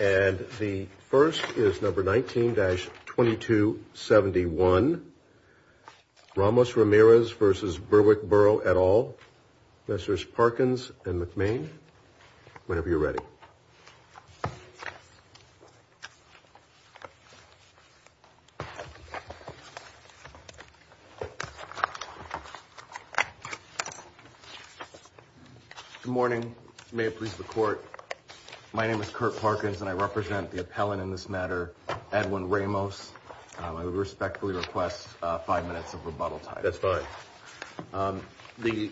And the first is number 19-2271, Ramos-Ramirez v. Berwick-Borough et al., Mr. Parkins and McMain, whenever you're ready. Good morning. May it please the Court, my name is Kurt Parkins and I represent the appellant in this matter, Edwin Ramos. I respectfully request five minutes of rebuttal time. That's fine. The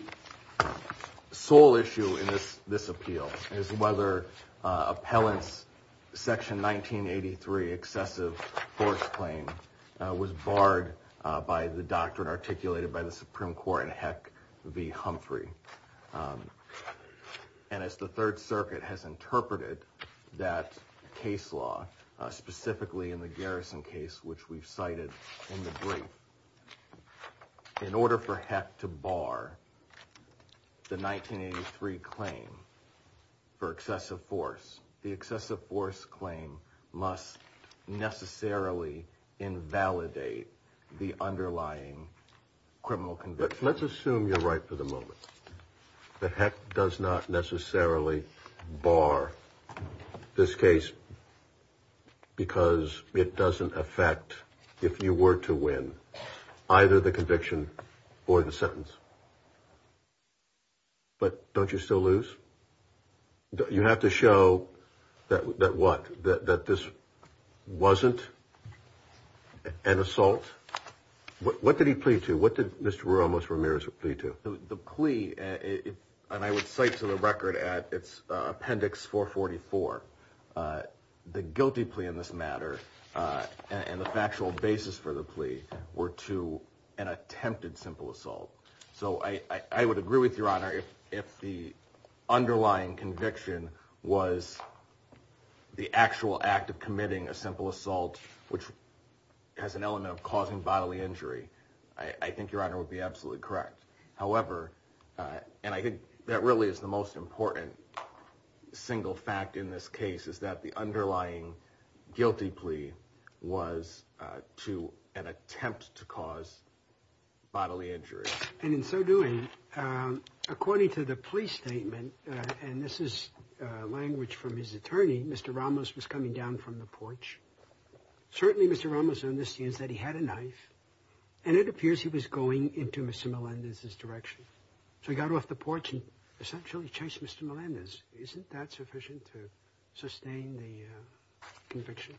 sole issue in this appeal is whether appellant's section 1983 excessive force claim was barred by the doctrine articulated by the Supreme Court in Heck v. Humphrey. And as the Third Circuit has interpreted that case law, specifically in the Garrison case, which we've cited in the brief, in order for Heck to bar the 1983 claim for excessive force, the excessive force claim must necessarily invalidate the underlying criminal conviction. Let's assume you're right for the moment. The Heck does not necessarily bar this case because it doesn't affect, if you were to win, either the conviction or the sentence. But don't you still lose? You have to show that what? That this wasn't an assault? What did he plead to? What did Mr. Ramos-Ramirez plead to? The plea, and I would cite to the record at Appendix 444, the guilty plea in this matter and the factual basis for the plea were to an attempted simple assault. So I would agree with Your Honor if the underlying conviction was the actual act of committing a simple assault, which has an element of causing bodily injury. I think Your Honor would be absolutely correct. However, and I think that really is the most important single fact in this case, is that the underlying guilty plea was to an attempt to cause bodily injury. And in so doing, according to the plea statement, and this is language from his attorney, Mr. Ramos was coming down from the porch. Certainly, Mr. Ramos on this scene said he had a knife and it appears he was going into Mr. Melendez's direction. So he got off the porch and essentially chased Mr. Melendez. Isn't that sufficient to sustain the conviction?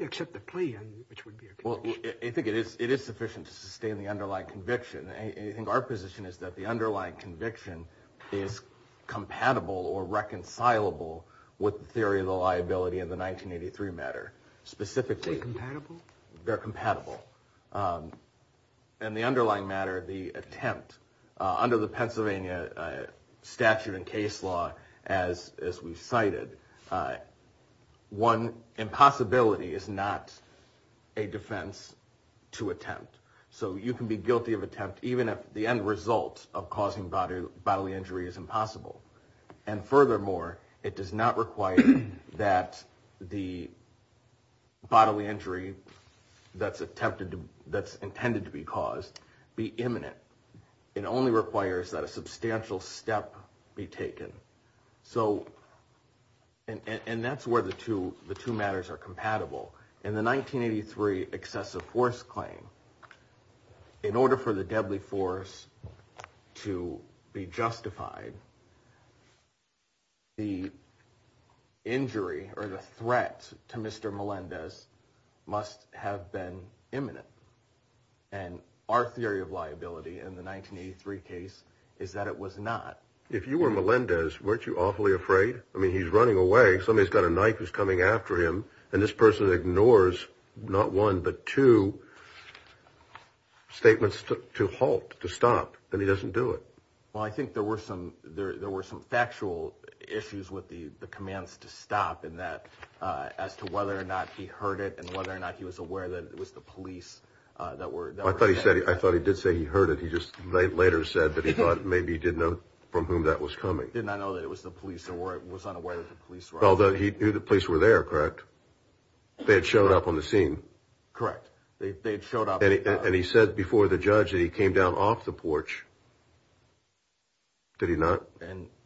Except the plea, which would be a conviction. Well, I think it is sufficient to sustain the underlying conviction. I think our position is that the underlying conviction is compatible or reconcilable with the theory of the liability in the 1983 matter, specifically. Are they compatible? They're compatible. And the underlying matter, the attempt, under the Pennsylvania statute and case law, as we've cited, one, impossibility is not a defense to attempt. So you can be guilty of attempt even if the end result of causing bodily injury is impossible. And furthermore, it does not require that the bodily injury that's intended to be caused be imminent. It only requires that a substantial step be taken. And that's where the two matters are compatible. In the 1983 excessive force claim, in order for the deadly force to be justified, the injury or the threat to Mr. Melendez must have been imminent. And our theory of liability in the 1983 case is that it was not. If you were Melendez, weren't you awfully afraid? I mean, he's running away. Somebody's got a knife who's coming after him, and this person ignores not one but two statements to halt, to stop. And he doesn't do it. Well, I think there were some factual issues with the commands to stop in that as to whether or not he heard it and whether or not he was aware that it was the police that were- I thought he did say he heard it. He just later said that he thought maybe he didn't know from whom that was coming. He did not know that it was the police or was unaware that the police were there. Although he knew the police were there, correct? They had showed up on the scene. Correct. They had showed up. And he said before the judge that he came down off the porch. Did he not?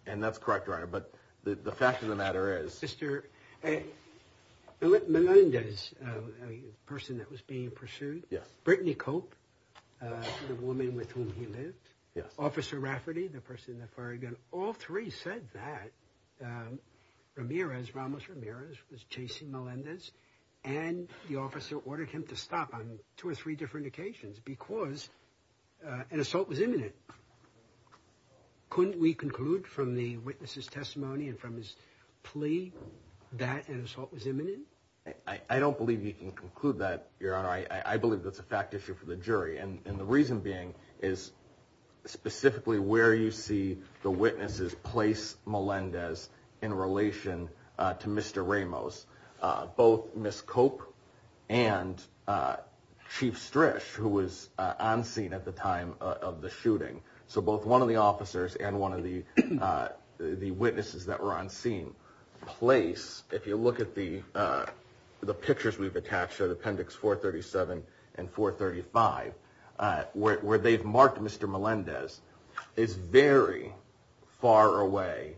And that's correct, Your Honor, but the fact of the matter is- Mr. Melendez, a person that was being pursued. Yes. Brittany Cope, the woman with whom he lived. Yes. Officer Rafferty, the person that fired the gun. All three said that Ramirez, Ramos Ramirez, was chasing Melendez. And the officer ordered him to stop on two or three different occasions because an assault was imminent. Couldn't we conclude from the witness's testimony and from his plea that an assault was imminent? I don't believe you can conclude that, Your Honor. I believe that's a fact issue for the jury. And the reason being is specifically where you see the witnesses place Melendez in relation to Mr. Ramos. Both Ms. Cope and Chief Strish, who was on scene at the time of the shooting. So both one of the officers and one of the witnesses that were on scene place. If you look at the pictures we've attached to Appendix 437 and 435, where they've marked Mr. Melendez is very far away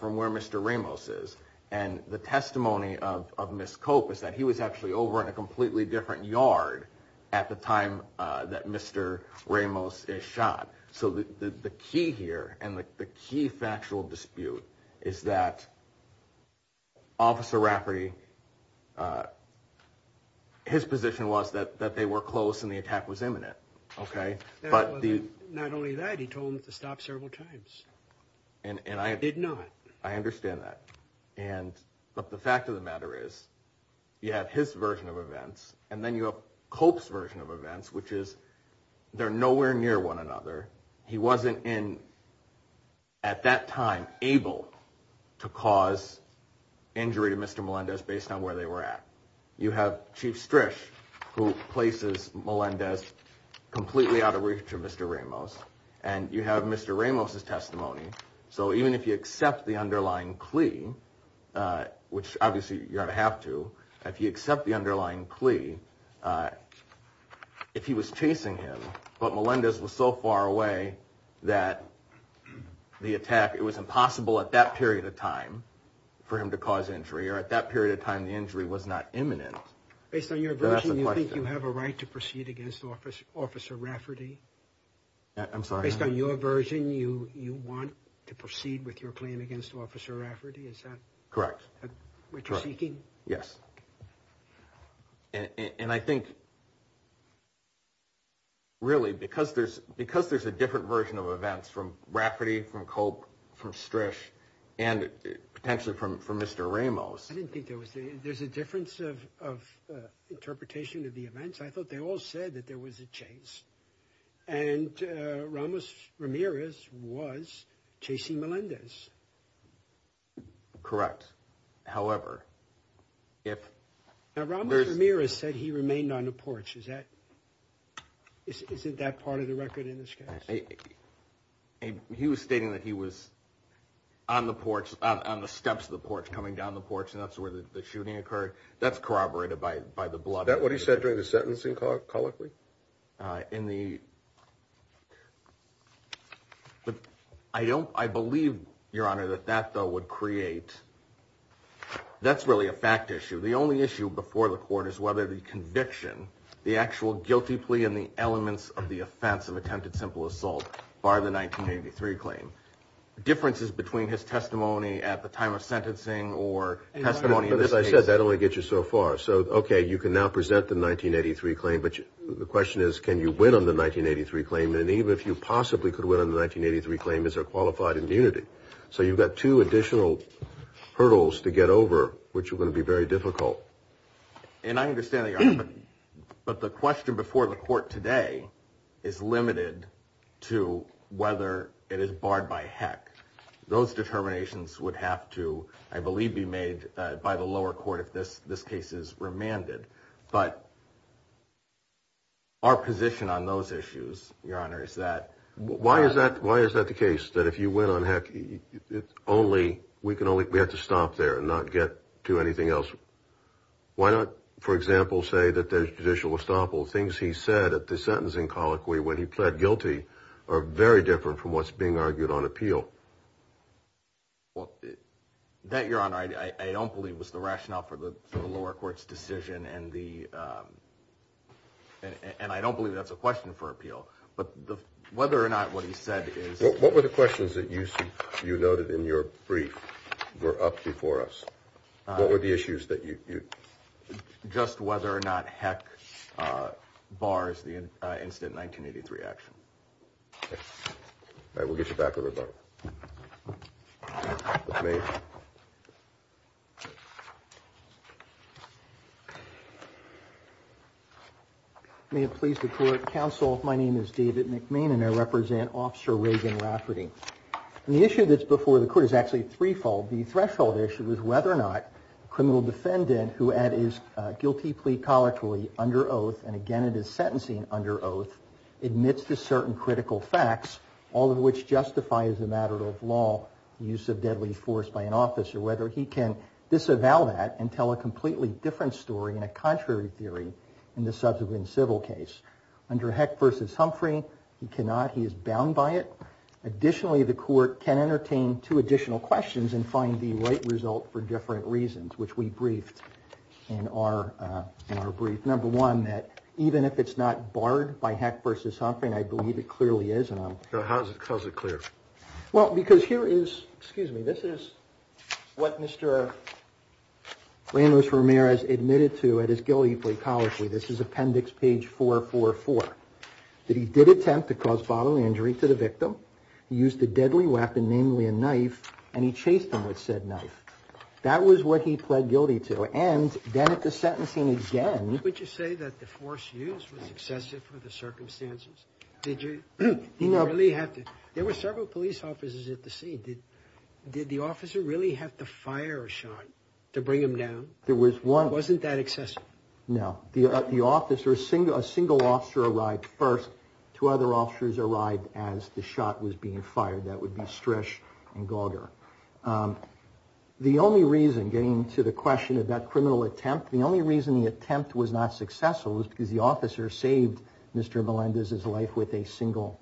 from where Mr. Ramos is. And the testimony of Ms. Cope is that he was actually over in a completely different yard at the time that Mr. Ramos is shot. So the key here and the key factual dispute is that Officer Rafferty, his position was that they were close and the attack was imminent. Not only that, he told them to stop several times. I did not. I understand that. And but the fact of the matter is you have his version of events and then you have Cope's version of events, which is they're nowhere near one another. He wasn't in at that time able to cause injury to Mr. Melendez based on where they were at. You have Chief Strish who places Melendez completely out of reach of Mr. Ramos and you have Mr. Ramos's testimony. So even if you accept the underlying plea, which obviously you're going to have to, if you accept the underlying plea, if he was chasing him, but Melendez was so far away that the attack, it was impossible at that period of time for him to cause injury or at that period of time the injury was not imminent. Based on your version, you think you have a right to proceed against Officer Rafferty? I'm sorry? Based on your version, you want to proceed with your claim against Officer Rafferty? Correct. Which you're seeking? Yes. And I think really because there's a different version of events from Rafferty, from Cope, from Strish, and potentially from Mr. Ramos. I didn't think there was. There's a difference of interpretation of the events. I thought they all said that there was a chase. And Ramos Ramirez was chasing Melendez. Correct. However, if... Now, Ramos Ramirez said he remained on the porch. Is that part of the record in this case? He was stating that he was on the porch, on the steps of the porch, coming down the porch, and that's where the shooting occurred. That's corroborated by the blood. Is that what he said during the sentencing call, colloquially? In the... I don't... I believe, Your Honor, that that, though, would create... That's really a fact issue. The only issue before the court is whether the conviction, the actual guilty plea and the elements of the offense of attempted simple assault bar the 1983 claim. Differences between his testimony at the time of sentencing or testimony in this case... As I said, that only gets you so far. So, okay, you can now present the 1983 claim, but the question is, can you win on the 1983 claim? And even if you possibly could win on the 1983 claim, is there qualified immunity? So you've got two additional hurdles to get over, which are going to be very difficult. And I understand that, Your Honor, but the question before the court today is limited to whether it is barred by heck. Those determinations would have to, I believe, be made by the lower court if this case is remanded. But our position on those issues, Your Honor, is that... Why is that? Why is that the case, that if you win on heck, it's only... We can only... We have to stop there and not get to anything else. Why not, for example, say that there's judicial estoppel? Things he said at the sentencing colloquy when he pled guilty are very different from what's being argued on appeal. Well, that, Your Honor, I don't believe was the rationale for the lower court's decision, and I don't believe that's a question for appeal. But whether or not what he said is... What were the questions that you noted in your brief were up before us? What were the issues that you... Just whether or not heck bars the incident in 1983 action. All right, we'll get you back over there. May it please the court. Counsel, my name is David McMain, and I represent Officer Reagan Rafferty. The issue that's before the court is actually threefold. The threshold issue is whether or not a criminal defendant who had his guilty plea colloquially under oath, and again it is sentencing under oath, admits to certain critical facts, all of which justify as a matter of law the use of deadly force by an officer, whether he can disavow that and tell a completely different story in a contrary theory in the subsequent civil case. Under heck versus Humphrey, he cannot. He is bound by it. Additionally, the court can entertain two additional questions and find the right result for different reasons, which we briefed in our brief. Number one, that even if it's not barred by heck versus Humphrey, and I believe it clearly is, and I'm... How is it clear? Well, because here is... Excuse me. This is what Mr. Ramos-Ramirez admitted to at his guilty plea colloquially. This is appendix page 444. That he did attempt to cause bodily injury to the victim, used a deadly weapon, namely a knife, and he chased him with said knife. That was what he pled guilty to, and then at the sentencing again... Would you say that the force used was excessive for the circumstances? Did you really have to... There were several police officers at the scene. Did the officer really have to fire Sean to bring him down? There was one... Wasn't that excessive? No. The officer... A single officer arrived first. Two other officers arrived as the shot was being fired. That would be Strish and Gauger. The only reason, getting to the question of that criminal attempt, the only reason the attempt was not successful was because the officer saved Mr. Melendez's life with a single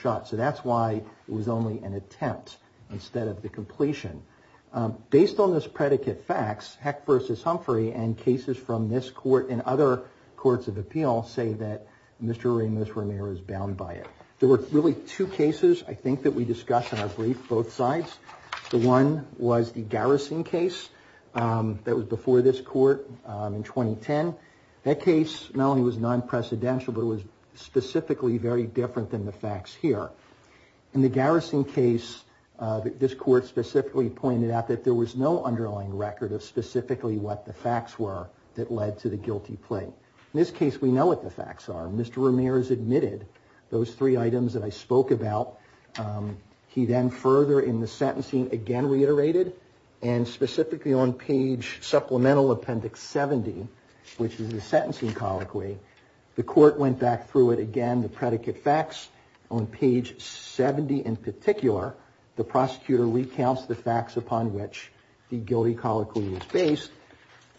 shot. So that's why it was only an attempt instead of the completion. Based on this predicate facts, Heck v. Humphrey and cases from this court and other courts of appeal say that Mr. Ramirez is bound by it. There were really two cases I think that we discussed in our brief, both sides. The one was the garrison case that was before this court in 2010. That case not only was non-precedential, but it was specifically very different than the facts here. In the garrison case, this court specifically pointed out that there was no underlying record of specifically what the facts were that led to the guilty plea. In this case, we know what the facts are. Mr. Ramirez admitted those three items that I spoke about. He then further in the sentencing again reiterated, and specifically on page supplemental appendix 70, which is the sentencing colloquy, the court went back through it again, the predicate facts. On page 70 in particular, the prosecutor recounts the facts upon which the guilty colloquy was based.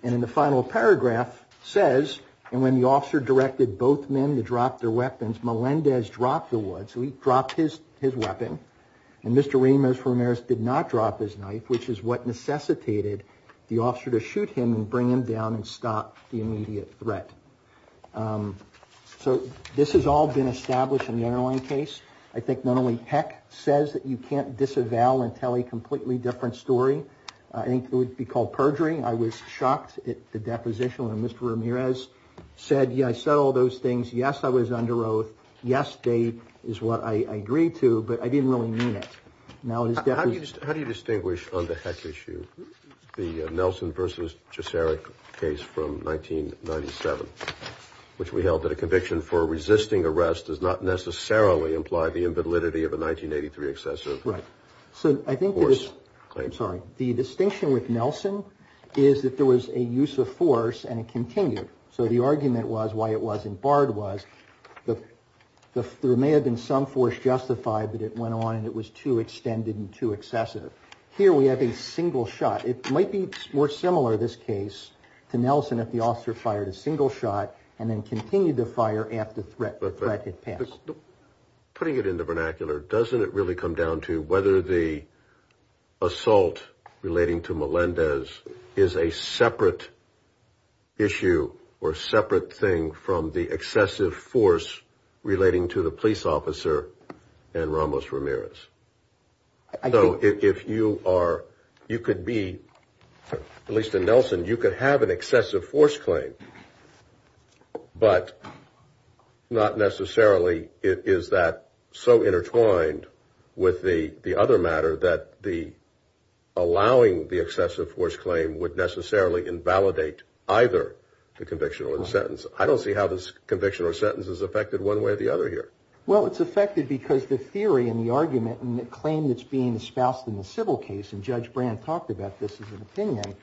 And in the final paragraph says, and when the officer directed both men to drop their weapons, Melendez dropped the wood. So he dropped his weapon, and Mr. Ramirez did not drop his knife, which is what necessitated the officer to shoot him and bring him down and stop the immediate threat. So this has all been established in the underlying case. I think not only Heck says that you can't disavow and tell a completely different story, I think it would be called perjury. I was shocked at the deposition when Mr. Ramirez said, yeah, I said all those things. Yes, I was under oath. Yes, they is what I agreed to, but I didn't really mean it. How do you distinguish on the Heck issue, the Nelson versus Cesare case from 1997, which we held that a conviction for resisting arrest does not necessarily imply the invalidity of a 1983 excessive? Right. So I think I'm sorry. The distinction with Nelson is that there was a use of force and it continued. So the argument was why it wasn't barred was that there may have been some force justified, but it went on and it was too extended and too excessive. Here we have a single shot. It might be more similar in this case to Nelson if the officer fired a single shot and then continued to fire after the threat had passed. Putting it in the vernacular, doesn't it really come down to whether the assault relating to Melendez is a separate issue or a separate thing from the excessive force relating to the police officer and Ramos Ramirez? So if you are, you could be, at least in Nelson, you could have an excessive force claim, but not necessarily is that so intertwined with the other matter that the allowing the excessive force claim would necessarily invalidate either the conviction or the sentence. I don't see how this conviction or sentence is affected one way or the other here. Well, it's affected because the theory and the argument and the claim that's being espoused in the civil case, and Judge Brand talked about this as an opinion,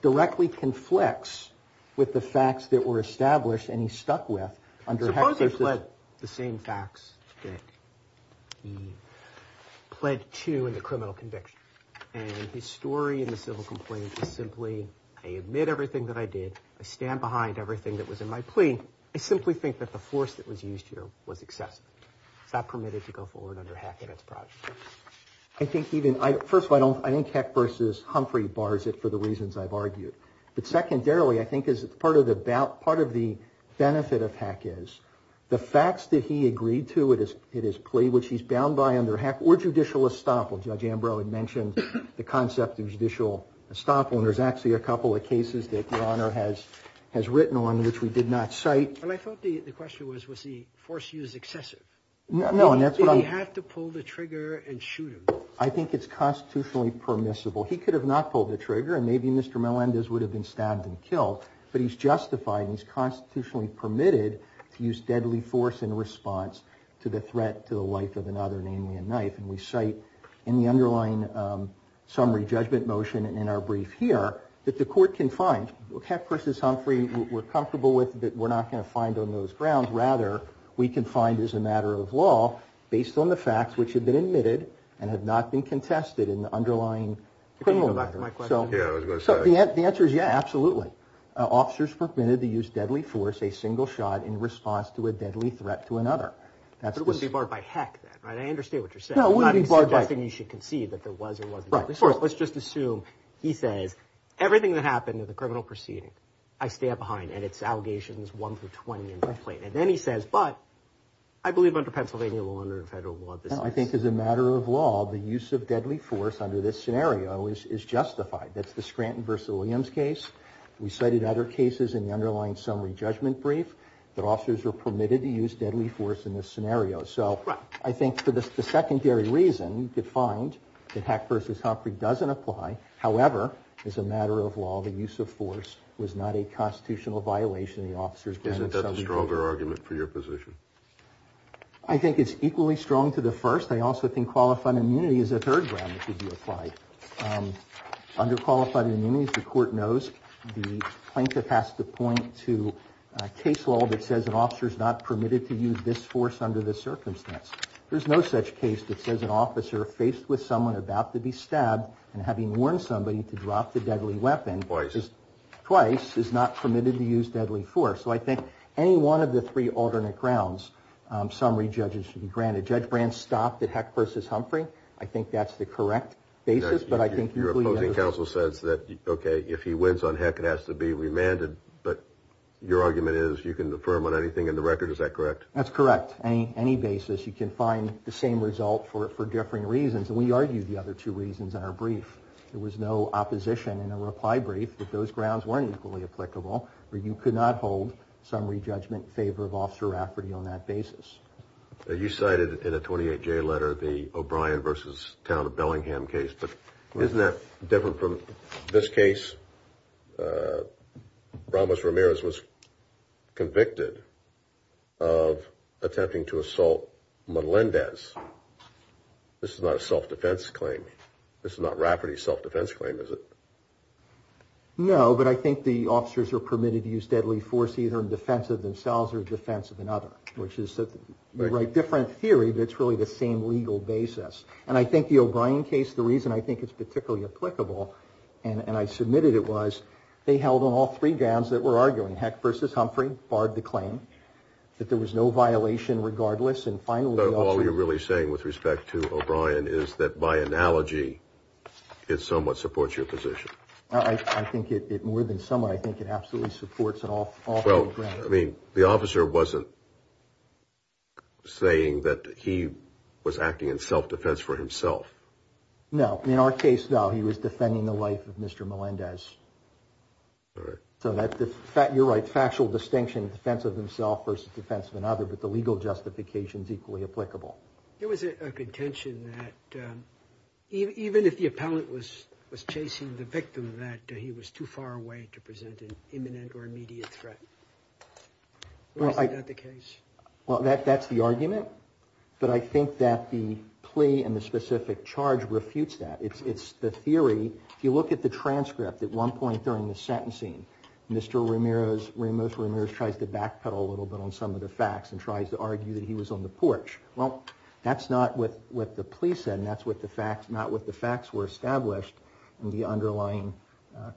directly conflicts with the facts that were established and he stuck with. Suppose I pled the same facts that he pled to in the criminal conviction, and his story in the civil complaint is simply I admit everything that I did. I simply think that the force that was used here was excessive. It's not permitted to go forward under Hackett's project. First of all, I think Hackett versus Humphrey bars it for the reasons I've argued. But secondarily, I think part of the benefit of Hackett is the facts that he agreed to in his plea, which he's bound by under Hackett, or judicial estoppel. Judge Ambrose had mentioned the concept of judicial estoppel, and there's actually a couple of cases that Your Honor has written on which we did not cite. And I thought the question was, was the force used excessive? No, and that's what I'm... Did he have to pull the trigger and shoot him? I think it's constitutionally permissible. He could have not pulled the trigger and maybe Mr. Melendez would have been stabbed and killed, but he's justified and he's constitutionally permitted to use deadly force in response to the threat to the life of another, namely a knife. And we cite in the underlying summary judgment motion in our brief here that the court can find, Hackett versus Humphrey we're comfortable with, but we're not going to find on those grounds. Rather, we can find as a matter of law based on the facts which have been admitted and have not been contested in the underlying criminal matter. So the answer is yeah, absolutely. Officers are permitted to use deadly force, a single shot, in response to a deadly threat to another. But it wouldn't be barred by Hackett, right? I understand what you're saying. No, it wouldn't be barred by... I'm not suggesting you should concede that there was or wasn't deadly force. Let's just assume he says everything that happened in the criminal proceeding I stand behind and it's allegations 1 through 20 in my plate. And then he says, but I believe under Pennsylvania law and under federal law this is... No, I think as a matter of law the use of deadly force under this scenario is justified. That's the Scranton versus Williams case. We cited other cases in the underlying summary judgment brief that officers were permitted to use deadly force in this scenario. So I think for the secondary reason you could find that Hackett versus Humphrey doesn't apply. However, as a matter of law, the use of force was not a constitutional violation. The officers... Isn't that the stronger argument for your position? I think it's equally strong to the first. I also think qualified immunity is a third ground that could be applied. Under qualified immunity, as the court knows, the plaintiff has to point to a case law that says an officer is not permitted to use this force under this circumstance. There's no such case that says an officer faced with someone about to be stabbed and having warned somebody to drop the deadly weapon... Twice. Twice is not permitted to use deadly force. So I think any one of the three alternate grounds summary judges should be granted. Judge Brand stopped at Hackett versus Humphrey. I think that's the correct basis, but I think... Your opposing counsel says that, okay, if he wins on Hackett it has to be remanded, but your argument is you can affirm on anything in the record. Is that correct? That's correct. Any basis, you can find the same result for differing reasons. And we argue the other two reasons in our brief. There was no opposition in a reply brief that those grounds weren't equally applicable or you could not hold summary judgment in favor of Officer Rafferty on that basis. You cited in a 28-J letter the O'Brien versus Town of Bellingham case, but isn't that different from this case? Ramos-Ramirez was convicted of attempting to assault Melendez. This is not a self-defense claim. This is not Rafferty's self-defense claim, is it? No, but I think the officers are permitted to use deadly force either in defense of themselves or in defense of another. You write different theory, but it's really the same legal basis. And I think the O'Brien case, the reason I think it's particularly applicable, and I submitted it was they held on all three grounds that we're arguing, Heck versus Humphrey, barred the claim, that there was no violation regardless. All you're really saying with respect to O'Brien is that by analogy, it somewhat supports your position. I think it more than somewhat. I think it absolutely supports it off the ground. I mean, the officer wasn't saying that he was acting in self-defense for himself. No, in our case, no, he was defending the life of Mr. Melendez. So you're right, factual distinction, defense of himself versus defense of another, but the legal justification is equally applicable. There was a contention that even if the appellant was chasing the victim, that he was too far away to present an imminent or immediate threat. Is that the case? Well, that's the argument. But I think that the plea and the specific charge refutes that. It's the theory. If you look at the transcript at one point during the sentencing, Mr. Ramos-Ramirez tries to backpedal a little bit on some of the facts and tries to argue that he was on the porch. Well, that's not what the plea said, and that's not what the facts were established in the underlying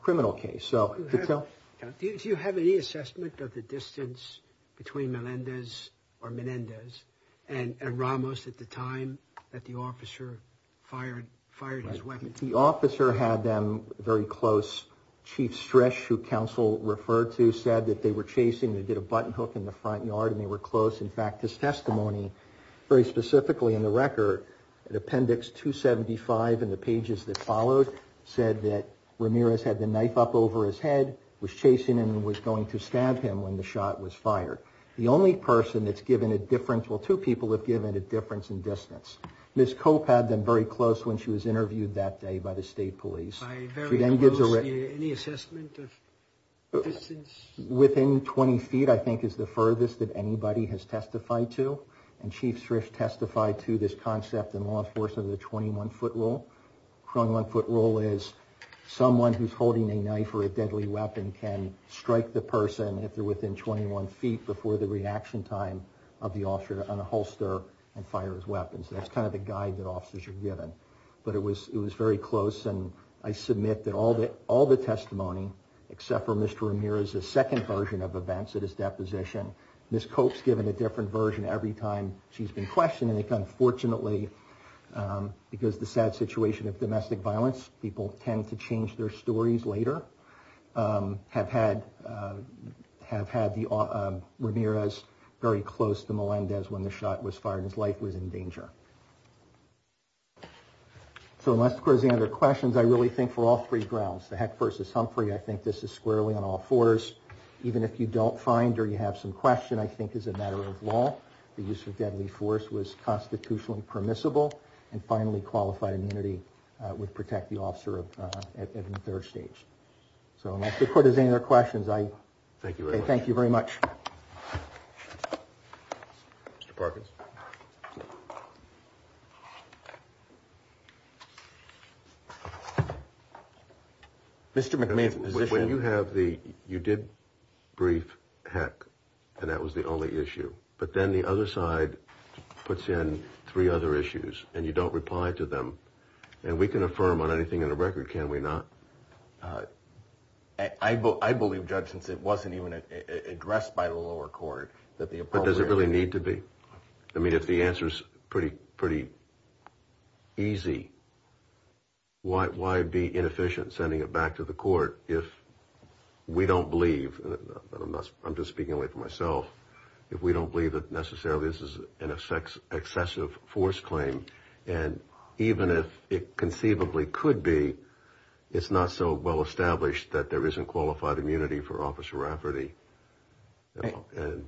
criminal case. Do you have any assessment of the distance between Melendez or Menendez and Ramos at the time that the officer fired his weapon? The officer had them very close. Chief Stresch, who counsel referred to, said that they were chasing. They did a button hook in the front yard, and they were close. In fact, his testimony, very specifically in the record, appendix 275 in the pages that followed, said that Ramirez had the knife up over his head, was chasing and was going to stab him when the shot was fired. The only person that's given a difference, well, two people have given a difference in distance. Ms. Cope had them very close when she was interviewed that day by the state police. By very close, any assessment of distance? Within 20 feet, I think, is the furthest that anybody has testified to, and Chief Stresch testified to this concept in law enforcement of the 21-foot rule. The 21-foot rule is someone who's holding a knife or a deadly weapon can strike the person if they're within 21 feet before the reaction time of the officer on a holster and fire his weapons. That's kind of the guide that officers are given. But it was very close, and I submit that all the testimony, except for Mr. Ramirez's second version of events at his deposition, Ms. Cope's given a different version every time she's been questioned, and unfortunately, because of the sad situation of domestic violence, people tend to change their stories later, have had Ramirez very close to Melendez when the shot was fired, and his life was in danger. So unless there's any other questions, I really think for all three grounds, the Heck versus Humphrey, I think this is squarely on all fours. Even if you don't find or you have some question, I think as a matter of law, the use of deadly force was constitutionally permissible, and finally, qualified immunity would protect the officer at the third stage. So unless the court has any other questions, I thank you very much. Mr. Parkins. Mr. McMahon's position. When you have the, you did brief Heck, and that was the only issue, but then the other side puts in three other issues, and you don't reply to them, and we can affirm on anything in the record, can we not? I believe, Judge, since it wasn't even addressed by the lower court, that the appropriate... But does it really need to be? I mean, if the answer's pretty easy, why be inefficient sending it back to the court if we don't believe, and I'm just speaking only for myself, if we don't believe that necessarily this is an excessive force claim, and even if it conceivably could be, it's not so well established that there isn't qualified immunity for Officer Rafferty, and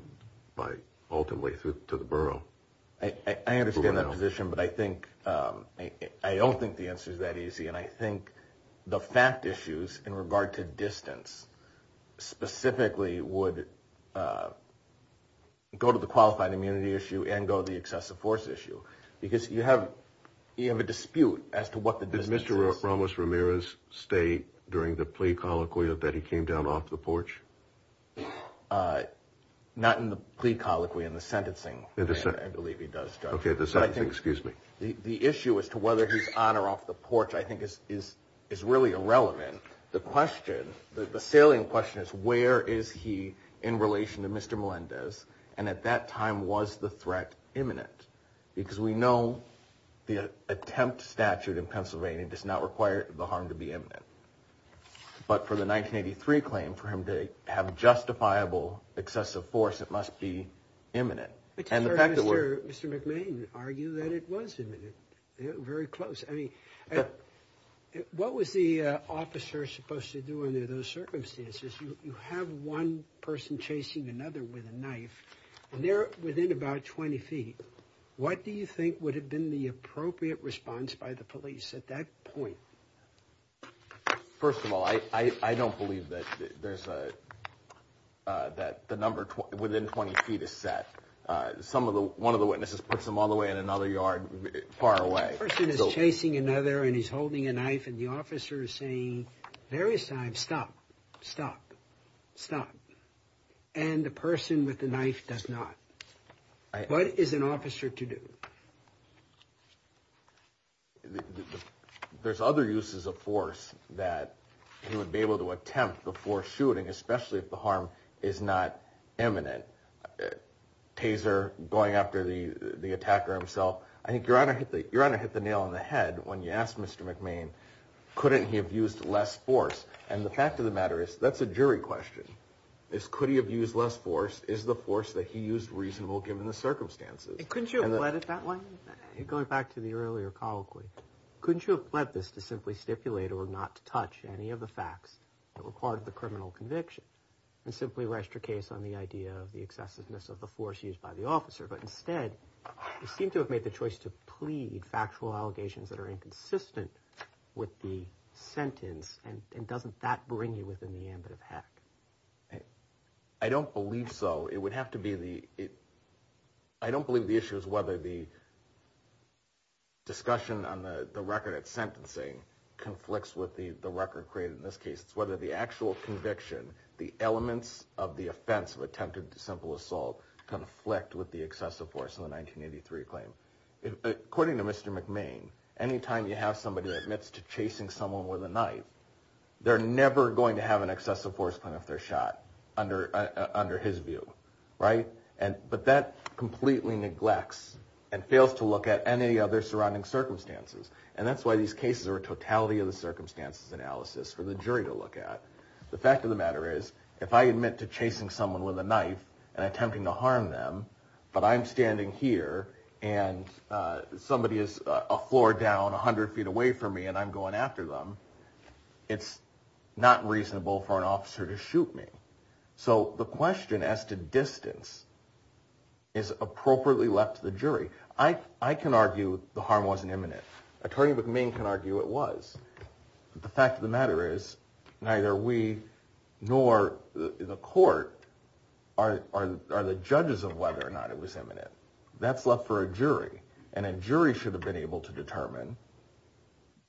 by ultimately to the borough. I understand that position, but I think, I don't think the answer's that easy, and I think the fact issues in regard to distance, specifically would go to the qualified immunity issue and go to the excessive force issue, because you have a dispute as to what the distance is. Did Mr. Ramos-Ramirez stay during the plea colloquy that he came down off the porch? Not in the plea colloquy, in the sentencing, I believe he does, Judge. Okay, the sentencing, excuse me. The issue as to whether he's on or off the porch I think is really irrelevant. The question, the salient question is where is he in relation to Mr. Melendez, and at that time was the threat imminent? Because we know the attempt statute in Pennsylvania does not require the harm to be imminent, but for the 1983 claim for him to have justifiable excessive force, it must be imminent. But you heard Mr. McMahon argue that it was imminent, very close. I mean, what was the officer supposed to do under those circumstances? You have one person chasing another with a knife, and they're within about 20 feet. What do you think would have been the appropriate response by the police at that point? First of all, I don't believe that the number within 20 feet is set. One of the witnesses puts them all the way in another yard far away. The person is chasing another, and he's holding a knife, and the officer is saying, stop, stop, stop. And the person with the knife does not. What is an officer to do? There's other uses of force that he would be able to attempt before shooting, especially if the harm is not imminent. Taser, going after the attacker himself. Your Honor hit the nail on the head when you asked Mr. McMahon, couldn't he have used less force? And the fact of the matter is, that's a jury question, is could he have used less force? Is the force that he used reasonable given the circumstances? Couldn't you have bled it that way? Going back to the earlier colloquy, couldn't you have bled this to simply stipulate or not touch any of the facts that were part of the criminal conviction and simply rest your case on the idea of the excessiveness of the force used by the officer? But instead, you seem to have made the choice to plead factual allegations that are inconsistent with the sentence, and doesn't that bring you within the ambit of hack? I don't believe so. It would have to be the – I don't believe the issue is whether the discussion on the record of sentencing conflicts with the record created in this case. It's whether the actual conviction, the elements of the offense of attempted simple assault, conflict with the excessive force in the 1983 claim. According to Mr. McMahon, any time you have somebody that admits to chasing someone with a knife, they're never going to have an excessive force plan if they're shot, under his view. Right? But that completely neglects and fails to look at any other surrounding circumstances, and that's why these cases are a totality of the circumstances analysis for the jury to look at. The fact of the matter is, if I admit to chasing someone with a knife and attempting to harm them, but I'm standing here and somebody is a floor down, 100 feet away from me, and I'm going after them, it's not reasonable for an officer to shoot me. So the question as to distance is appropriately left to the jury. I can argue the harm wasn't imminent. Attorney McMahon can argue it was. The fact of the matter is, neither we nor the court are the judges of whether or not it was imminent. That's left for a jury, and a jury should have been able to determine,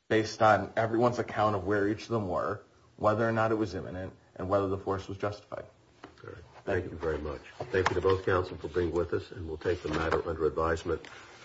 based on everyone's account of where each of them were, whether or not it was imminent and whether the force was justified. Thank you very much. Thank you to both counsel for being with us, and we'll take the matter under advisement.